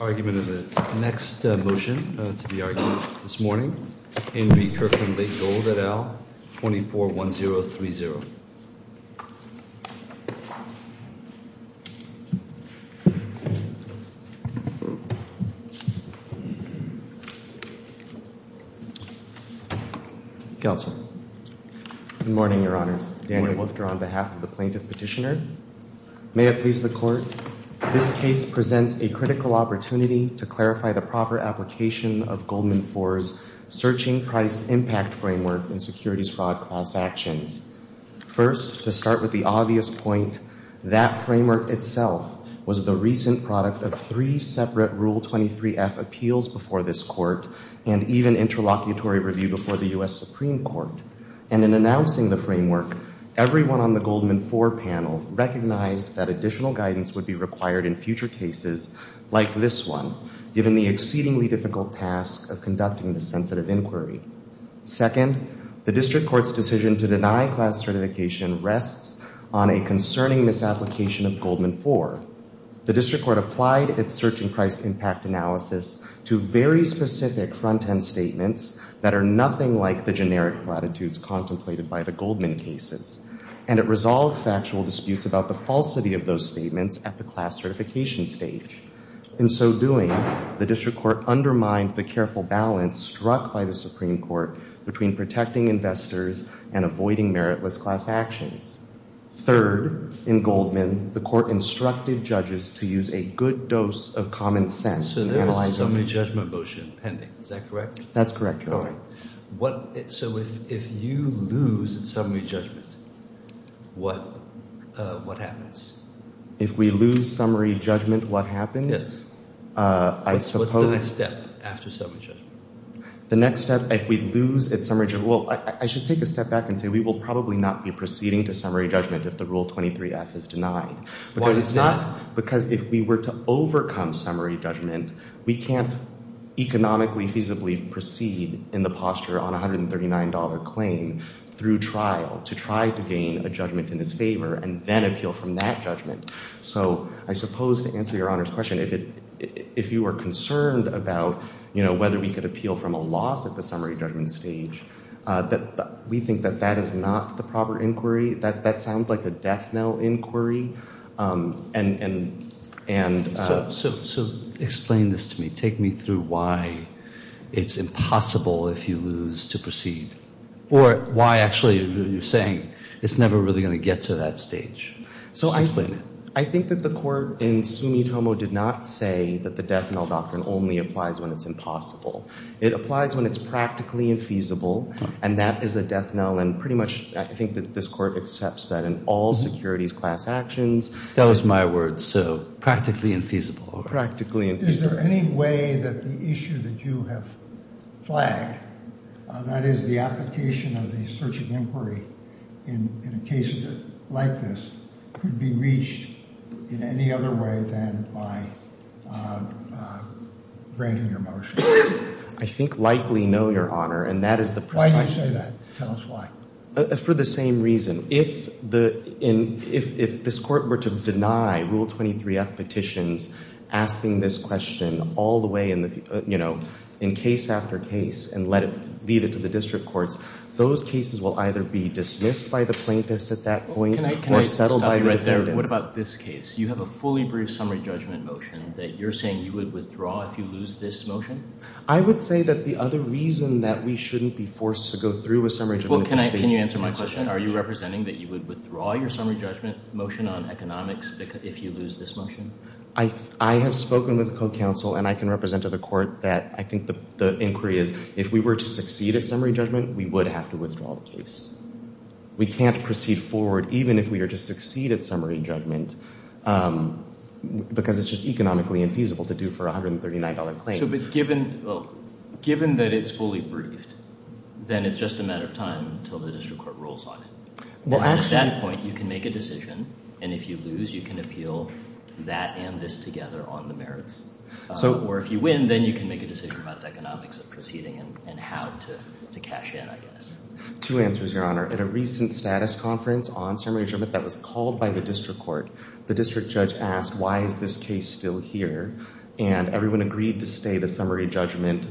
Argument of the next motion to be argued this morning. In Re. Kirkland Lake Gold et al. 241030. Counsel. Good morning, Your Honors. Daniel Wolfter on behalf of the Plaintiff Petitioner. May it please the Court, this case presents a critical opportunity to clarify the proper application of Goldman For's Searching Price Impact Framework in securities fraud class actions. First, to start with the obvious point, that framework itself was the recent product of three separate Rule 23F appeals before this Court and even interlocutory review before the U.S. Supreme Court. And in announcing the framework, everyone on the Goldman For panel recognized that additional guidance would be required in future cases like this one, given the exceedingly difficult task of conducting this sensitive inquiry. Second, the District Court's decision to deny class certification rests on a concerning misapplication of Goldman For. The District Court applied its Searching Price Impact analysis to very specific front-end statements that are nothing like the generic platitudes contemplated by the Goldman cases, and it resolved factual disputes about the falsity of those statements at the class certification stage. In so doing, the District Court undermined the careful balance struck by the Supreme Court between protecting investors and avoiding meritless class actions. Third, in Goldman, the Court instructed judges to use a good dose of common sense in analyzing the case. So there's a summary judgment motion pending, is that correct? That's correct, Your Honor. All right. So if you lose at summary judgment, what happens? If we lose summary judgment, what happens? Yes. What's the next step after summary judgment? The next step, if we lose at summary judgment, well, I should take a step back and say we will probably not be proceeding to summary judgment if the Rule 23-F is denied. Why's that? Because if we were to overcome summary judgment, we can't economically feasibly proceed in the posture on a $139 claim through trial to try to gain a judgment in his favor and then appeal from that judgment. So I suppose to answer Your Honor's question, if you were concerned about, you know, whether we could appeal from a loss at the summary judgment stage, we think that that is not the proper inquiry. That sounds like a death knell inquiry. So explain this to me. Take me through why it's impossible if you lose to proceed or why actually you're saying it's never really going to get to that stage. So I think that the court in Sumitomo did not say that the death knell doctrine only applies when it's impossible. It applies when it's practically infeasible, and that is a death knell. And pretty much I think that this court accepts that in all securities class actions. That was my word. So practically infeasible. Practically infeasible. Is there any way that the issue that you have flagged, that is the application of the search and inquiry in a case like this, could be reached in any other way than by granting your motion? I think likely no, Your Honor, and that is the precise reason. Why do you say that? Tell us why. For the same reason. If this court were to deny Rule 23F petitions asking this question all the way in case after case and leave it to the district courts, those cases will either be dismissed by the plaintiffs at that point or settled by the defendants. Can I stop you right there? What about this case? You have a fully brief summary judgment motion that you're saying you would withdraw if you lose this motion? I would say that the other reason that we shouldn't be forced to go through a summary judgment motion. Can you answer my question? Are you representing that you would withdraw your summary judgment motion on economics if you lose this motion? I have spoken with a co-counsel, and I can represent to the court that I think the inquiry is if we were to succeed at summary judgment, we would have to withdraw the case. We can't proceed forward even if we are to succeed at summary judgment because it's just economically infeasible to do for a $139 claim. But given that it's fully briefed, then it's just a matter of time until the district court rules on it. At that point, you can make a decision, and if you lose, you can appeal that and this together on the merits. Or if you win, then you can make a decision about the economics of proceeding and how to cash in, I guess. Two answers, Your Honor. At a recent status conference on summary judgment that was called by the district court, the district judge asked, why is this case still here? And everyone agreed to stay the summary judgment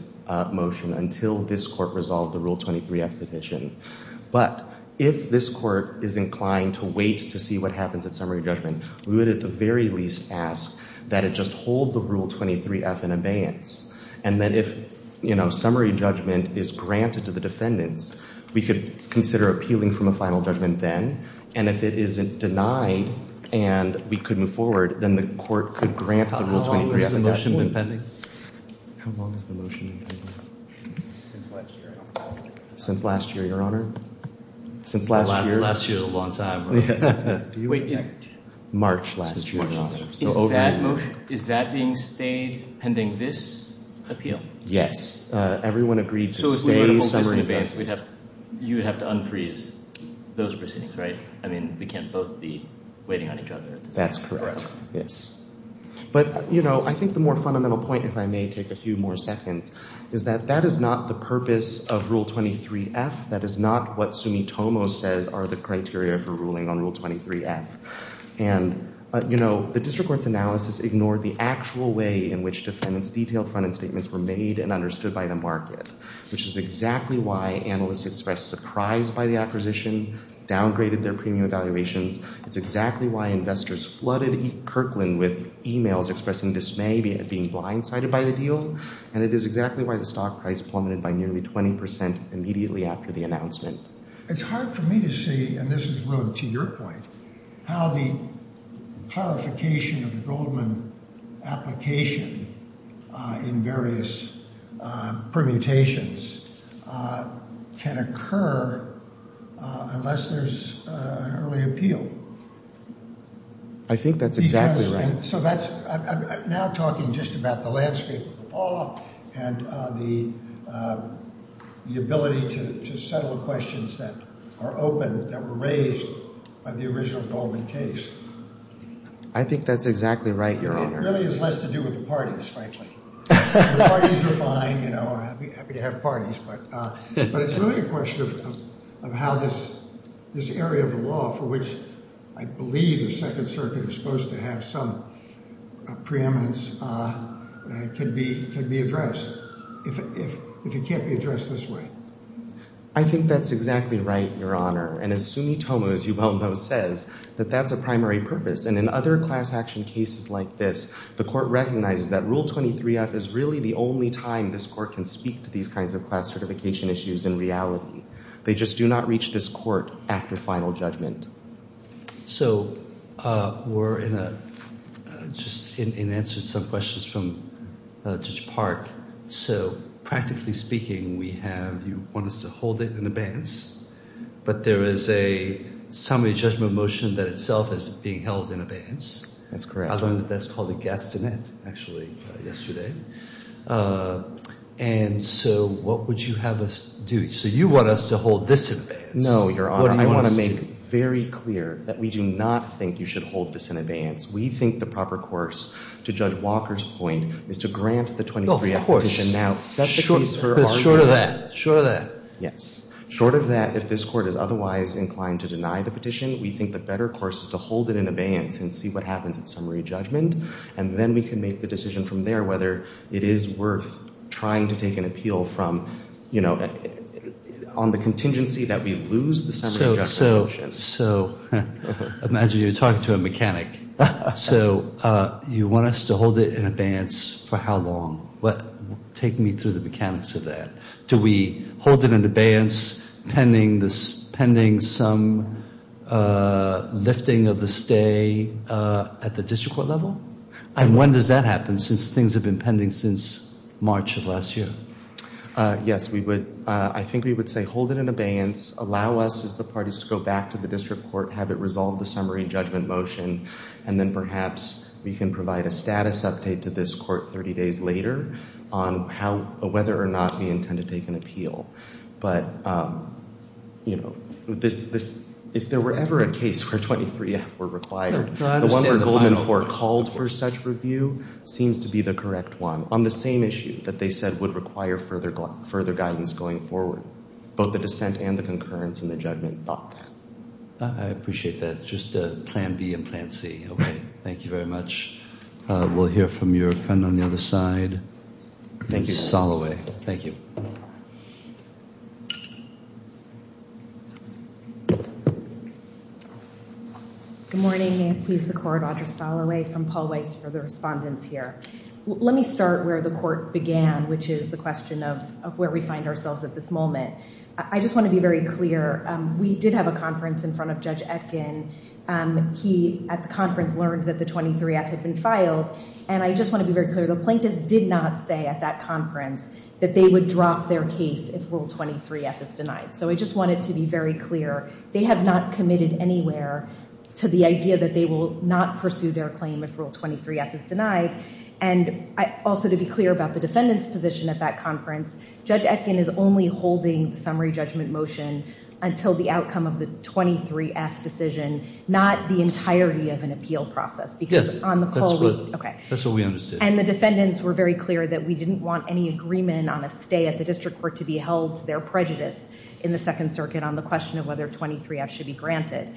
motion until this court resolved the Rule 23-F petition. But if this court is inclined to wait to see what happens at summary judgment, we would at the very least ask that it just hold the Rule 23-F in abeyance. And then if, you know, summary judgment is granted to the defendants, we could consider appealing from a final judgment then. And if it isn't denied and we could move forward, then the court could grant the Rule 23-F. How long has the motion been pending? How long has the motion been pending? Since last year, Your Honor. Since last year, Your Honor? Since last year? Last year is a long time. Wait. March last year, Your Honor. Is that being stayed pending this appeal? Yes. Everyone agreed to stay summary judgment. You would have to unfreeze those proceedings, right? I mean, we can't both be waiting on each other. That's correct. Yes. But, you know, I think the more fundamental point, if I may take a few more seconds, is that that is not the purpose of Rule 23-F. That is not what Sumitomo says are the criteria for ruling on Rule 23-F. And, you know, the district court's analysis ignored the actual way in which defendants' detailed front-end statements were made and understood by the market, which is exactly why analysts expressed surprise by the acquisition, downgraded their premium valuations. It's exactly why investors flooded Kirkland with e-mails expressing dismay at being blindsided by the deal. And it is exactly why the stock price plummeted by nearly 20 percent immediately after the announcement. It's hard for me to see, and this is really to your point, how the clarification of the Goldman application in various permutations can occur unless there's an early appeal. I think that's exactly right. I'm now talking just about the landscape of the law and the ability to settle questions that are open, that were raised by the original Goldman case. I think that's exactly right, Your Honor. It really has less to do with the parties, frankly. The parties are fine, you know, happy to have parties. But it's really a question of how this area of the law for which I believe the Second Circuit is supposed to have some preeminence can be addressed if it can't be addressed this way. I think that's exactly right, Your Honor. And as Sumitomo, as you well know, says, that that's a primary purpose. And in other class action cases like this, the court recognizes that Rule 23-F is really the only time this court can speak to these kinds of class certification issues in reality. They just do not reach this court after final judgment. So we're in a – just in answer to some questions from Judge Park. So practically speaking, we have – you want us to hold it in abeyance. But there is a summary judgment motion that itself is being held in abeyance. That's correct. I learned that that's called a gastinet, actually, yesterday. And so what would you have us do? So you want us to hold this in abeyance. No, Your Honor. I want to make very clear that we do not think you should hold this in abeyance. We think the proper course, to Judge Walker's point, is to grant the 23-F petition now. Short of that. Short of that. Yes. Short of that, if this court is otherwise inclined to deny the petition, we think the better course is to hold it in abeyance and see what happens in summary judgment. And then we can make the decision from there whether it is worth trying to take an appeal from, you know, on the contingency that we lose the summary judgment motion. So imagine you're talking to a mechanic. So you want us to hold it in abeyance for how long? Take me through the mechanics of that. Do we hold it in abeyance pending some lifting of the stay at the district court level? And when does that happen since things have been pending since March of last year? Yes, we would. I think we would say hold it in abeyance, allow us as the parties to go back to the district court, have it resolve the summary judgment motion, and then perhaps we can provide a status update to this court 30 days later on whether or not we intend to take an appeal. But, you know, if there were ever a case where 23-F were required, the one where Goldman Ford called for such review seems to be the correct one. On the same issue that they said would require further guidance going forward, both the dissent and the concurrence in the judgment thought that. I appreciate that. Just plan B and plan C. Okay. Thank you very much. We'll hear from your friend on the other side. Thank you. Thank you. Good morning. May it please the court, Audra Soloway from Paul Weiss for the respondents here. Let me start where the court began, which is the question of where we find ourselves at this moment. I just want to be very clear. We did have a conference in front of Judge Etkin. He, at the conference, learned that the 23-F had been filed, and I just want to be very clear. The plaintiffs did not say at that conference that they would drop their case if Rule 23-F is denied. So I just wanted to be very clear. They have not committed anywhere to the idea that they will not pursue their claim if Rule 23-F is denied. And also to be clear about the defendant's position at that conference, Judge Etkin is only holding the summary judgment motion until the outcome of the 23-F decision, not the entirety of an appeal process. That's what we understood. And the defendants were very clear that we didn't want any agreement on a stay at the district court to be held to their prejudice in the Second Circuit on the question of whether 23-F should be granted.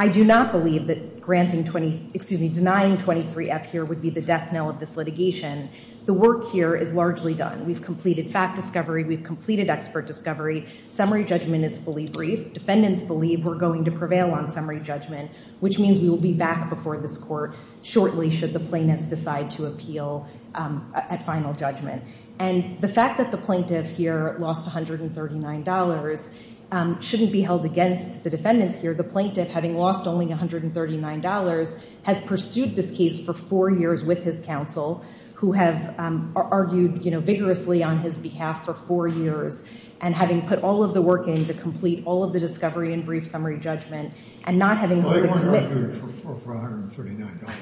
I do not believe that denying 23-F here would be the death knell of this litigation. The work here is largely done. We've completed fact discovery. We've completed expert discovery. Summary judgment is fully briefed. Defendants believe we're going to prevail on summary judgment, which means we will be back before this court shortly should the plaintiffs decide to appeal at final judgment. And the fact that the plaintiff here lost $139 shouldn't be held against the defendants here. The plaintiff, having lost only $139, has pursued this case for four years with his counsel, who have argued vigorously on his behalf for four years, and having put all of the work in to complete all of the discovery and brief summary judgment, and not having had to commit. They weren't arguing for $139.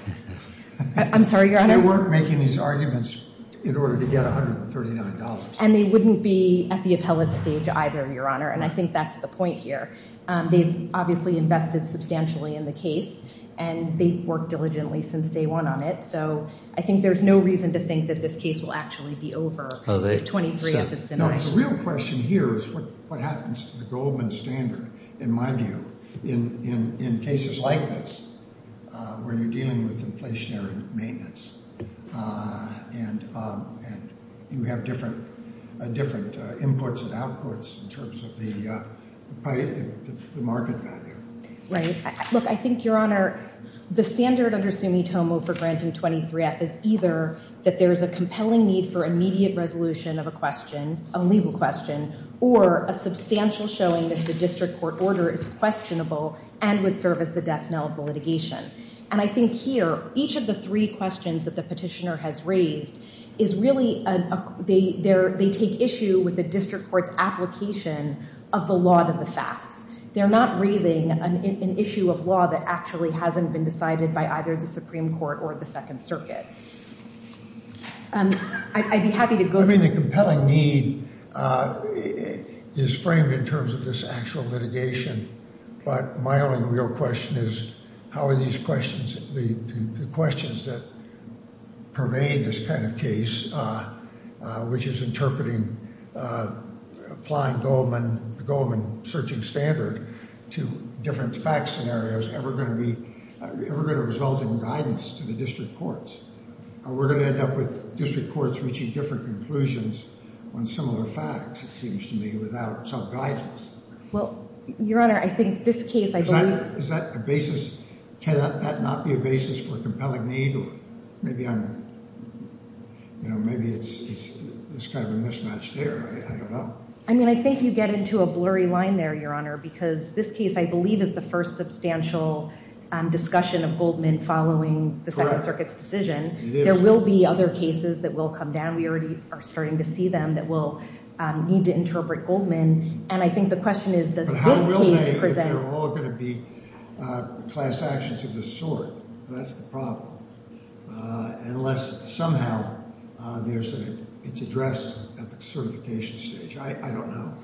I'm sorry, Your Honor? They weren't making these arguments in order to get $139. And they wouldn't be at the appellate stage either, Your Honor. And I think that's the point here. They've obviously invested substantially in the case, and they've worked diligently since day one on it. So I think there's no reason to think that this case will actually be over. The real question here is what happens to the Goldman standard, in my view, in cases like this where you're dealing with inflationary maintenance. And you have different inputs and outputs in terms of the market value. Right. Look, I think, Your Honor, the standard under Sumitomo for granting 23-F is either that there is a compelling need for immediate resolution of a question, a legal question, or a substantial showing that the district court order is questionable and would serve as the death knell of the litigation. And I think here, each of the three questions that the petitioner has raised is really – they take issue with the district court's application of the law to the facts. They're not raising an issue of law that actually hasn't been decided by either the Supreme Court or the Second Circuit. I'd be happy to go there. I mean, the compelling need is framed in terms of this actual litigation. But my only real question is how are these questions – the questions that pervade this kind of case, which is interpreting – applying the Goldman searching standard to different fact scenarios, ever going to be – ever going to result in guidance to the district courts? Are we going to end up with district courts reaching different conclusions on similar facts, it seems to me, without some guidance? Well, Your Honor, I think this case I believe – Is that a basis – can that not be a basis for a compelling need? Or maybe I'm – you know, maybe it's kind of a mismatch there. I don't know. I mean, I think you get into a blurry line there, Your Honor, because this case I believe is the first substantial discussion of Goldman following the Second Circuit's decision. It is. There will be other cases that will come down. We already are starting to see them that will need to interpret Goldman. And I think the question is does this case present – Unless somehow there's – it's addressed at the certification stage. I don't know.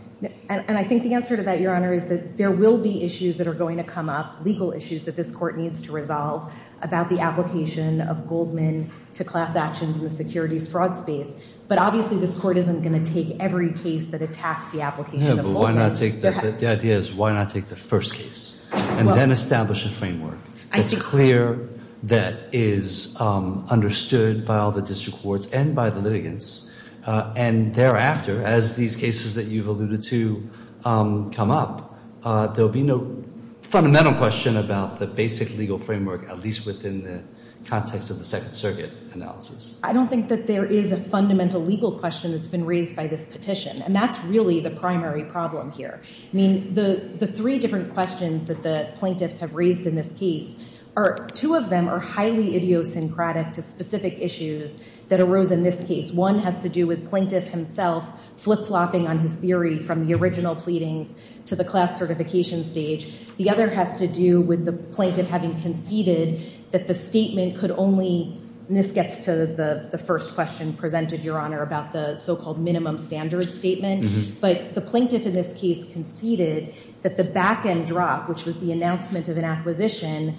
And I think the answer to that, Your Honor, is that there will be issues that are going to come up, legal issues that this court needs to resolve about the application of Goldman to class actions in the securities fraud space. But obviously this court isn't going to take every case that attacks the application of Goldman. The idea is why not take the first case and then establish a framework that's clear, that is understood by all the district courts and by the litigants. And thereafter, as these cases that you've alluded to come up, there will be no fundamental question about the basic legal framework, at least within the context of the Second Circuit analysis. I don't think that there is a fundamental legal question that's been raised by this petition. And that's really the primary problem here. I mean, the three different questions that the plaintiffs have raised in this case are – two of them are highly idiosyncratic to specific issues that arose in this case. One has to do with plaintiff himself flip-flopping on his theory from the original pleadings to the class certification stage. The other has to do with the plaintiff having conceded that the statement could only – and this gets to the first question presented, Your Honor, about the so-called minimum standard statement. But the plaintiff in this case conceded that the back-end drop, which was the announcement of an acquisition,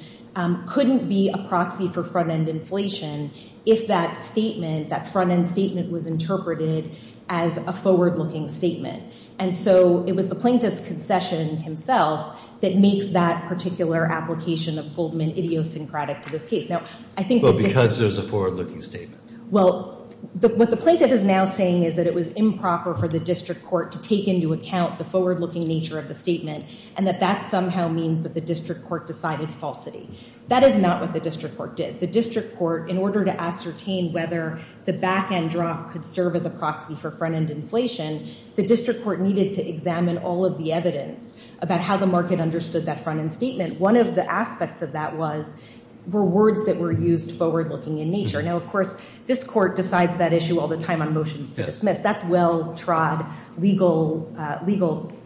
couldn't be a proxy for front-end inflation if that statement, that front-end statement, was interpreted as a forward-looking statement. And so it was the plaintiff's concession himself that makes that particular application of Goldman idiosyncratic to this case. Now, I think – Well, because there's a forward-looking statement. Well, what the plaintiff is now saying is that it was improper for the district court to take into account the forward-looking nature of the statement and that that somehow means that the district court decided falsity. That is not what the district court did. The district court, in order to ascertain whether the back-end drop could serve as a proxy for front-end inflation, the district court needed to examine all of the evidence about how the market understood that front-end statement. One of the aspects of that was – were words that were used forward-looking in nature. Now, of course, this court decides that issue all the time on motions to dismiss. That's well-trod legal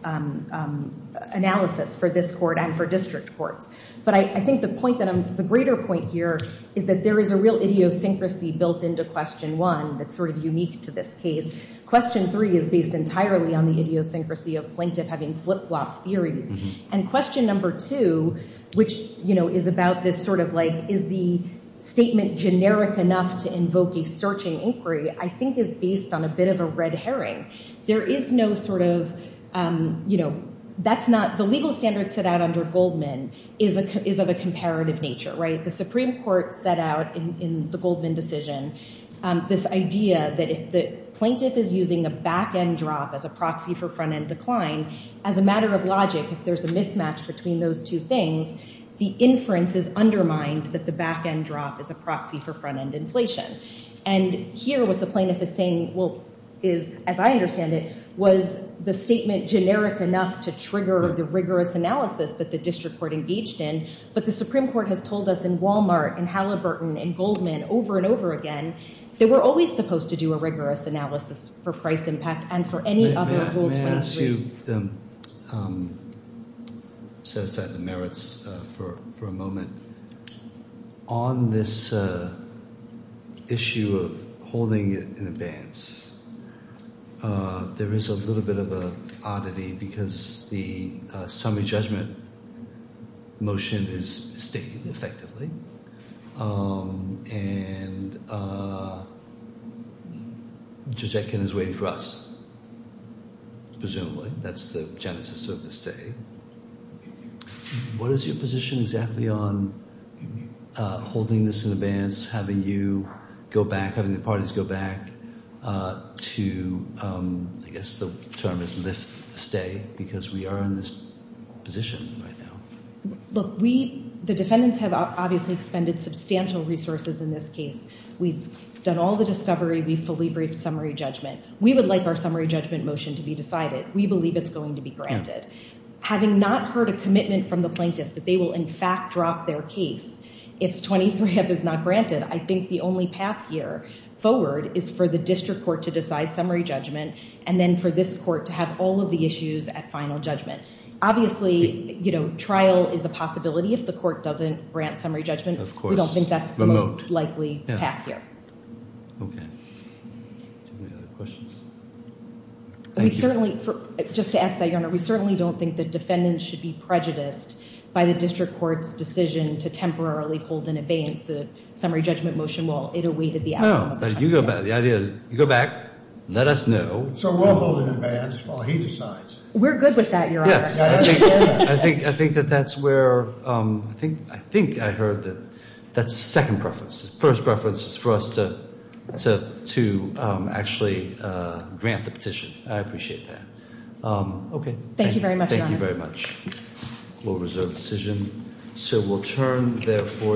analysis for this court and for district courts. But I think the point that I'm – the greater point here is that there is a real idiosyncrasy built into question one that's sort of unique to this case. Question three is based entirely on the idiosyncrasy of plaintiff having flip-flopped theories. And question number two, which is about this sort of like is the statement generic enough to invoke a searching inquiry, I think is based on a bit of a red herring. There is no sort of – that's not – the legal standard set out under Goldman is of a comparative nature. The Supreme Court set out in the Goldman decision this idea that if the plaintiff is using a back-end drop as a proxy for front-end decline, as a matter of logic, if there's a mismatch between those two things, the inference is undermined that the back-end drop is a proxy for front-end inflation. And here what the plaintiff is saying is, as I understand it, was the statement generic enough to trigger the rigorous analysis that the district court engaged in. But the Supreme Court has told us in Walmart, in Halliburton, in Goldman over and over again that we're always supposed to do a rigorous analysis for price impact and for any other – Let me ask you – set aside the merits for a moment. On this issue of holding it in advance, there is a little bit of an oddity because the summary judgment motion is mistaken, effectively, and Judge Etkin is waiting for us presumably. That's the genesis of the stay. What is your position exactly on holding this in advance, having you go back, having the parties go back to – I guess the term is lift the stay because we are in this position right now. Look, we – the defendants have obviously expended substantial resources in this case. We've done all the discovery. We've fully briefed summary judgment. We would like our summary judgment motion to be decided. We believe it's going to be granted. Having not heard a commitment from the plaintiffs that they will in fact drop their case if 23F is not granted, I think the only path here forward is for the district court to decide summary judgment and then for this court to have all of the issues at final judgment. Obviously, trial is a possibility if the court doesn't grant summary judgment. Of course. We don't think that's the most likely path here. Okay. Do you have any other questions? We certainly – just to add to that, Your Honor, we certainly don't think the defendants should be prejudiced by the district court's decision to temporarily hold in advance the summary judgment motion while it awaited the outcome. You go back. The idea is you go back, let us know. So we'll hold in advance while he decides. We're good with that, Your Honor. Yes. I think that that's where – I think I heard that – that's second preference. First preference is for us to actually grant the petition. I appreciate that. Okay. Thank you very much, Your Honor. Thank you very much. We'll reserve the decision.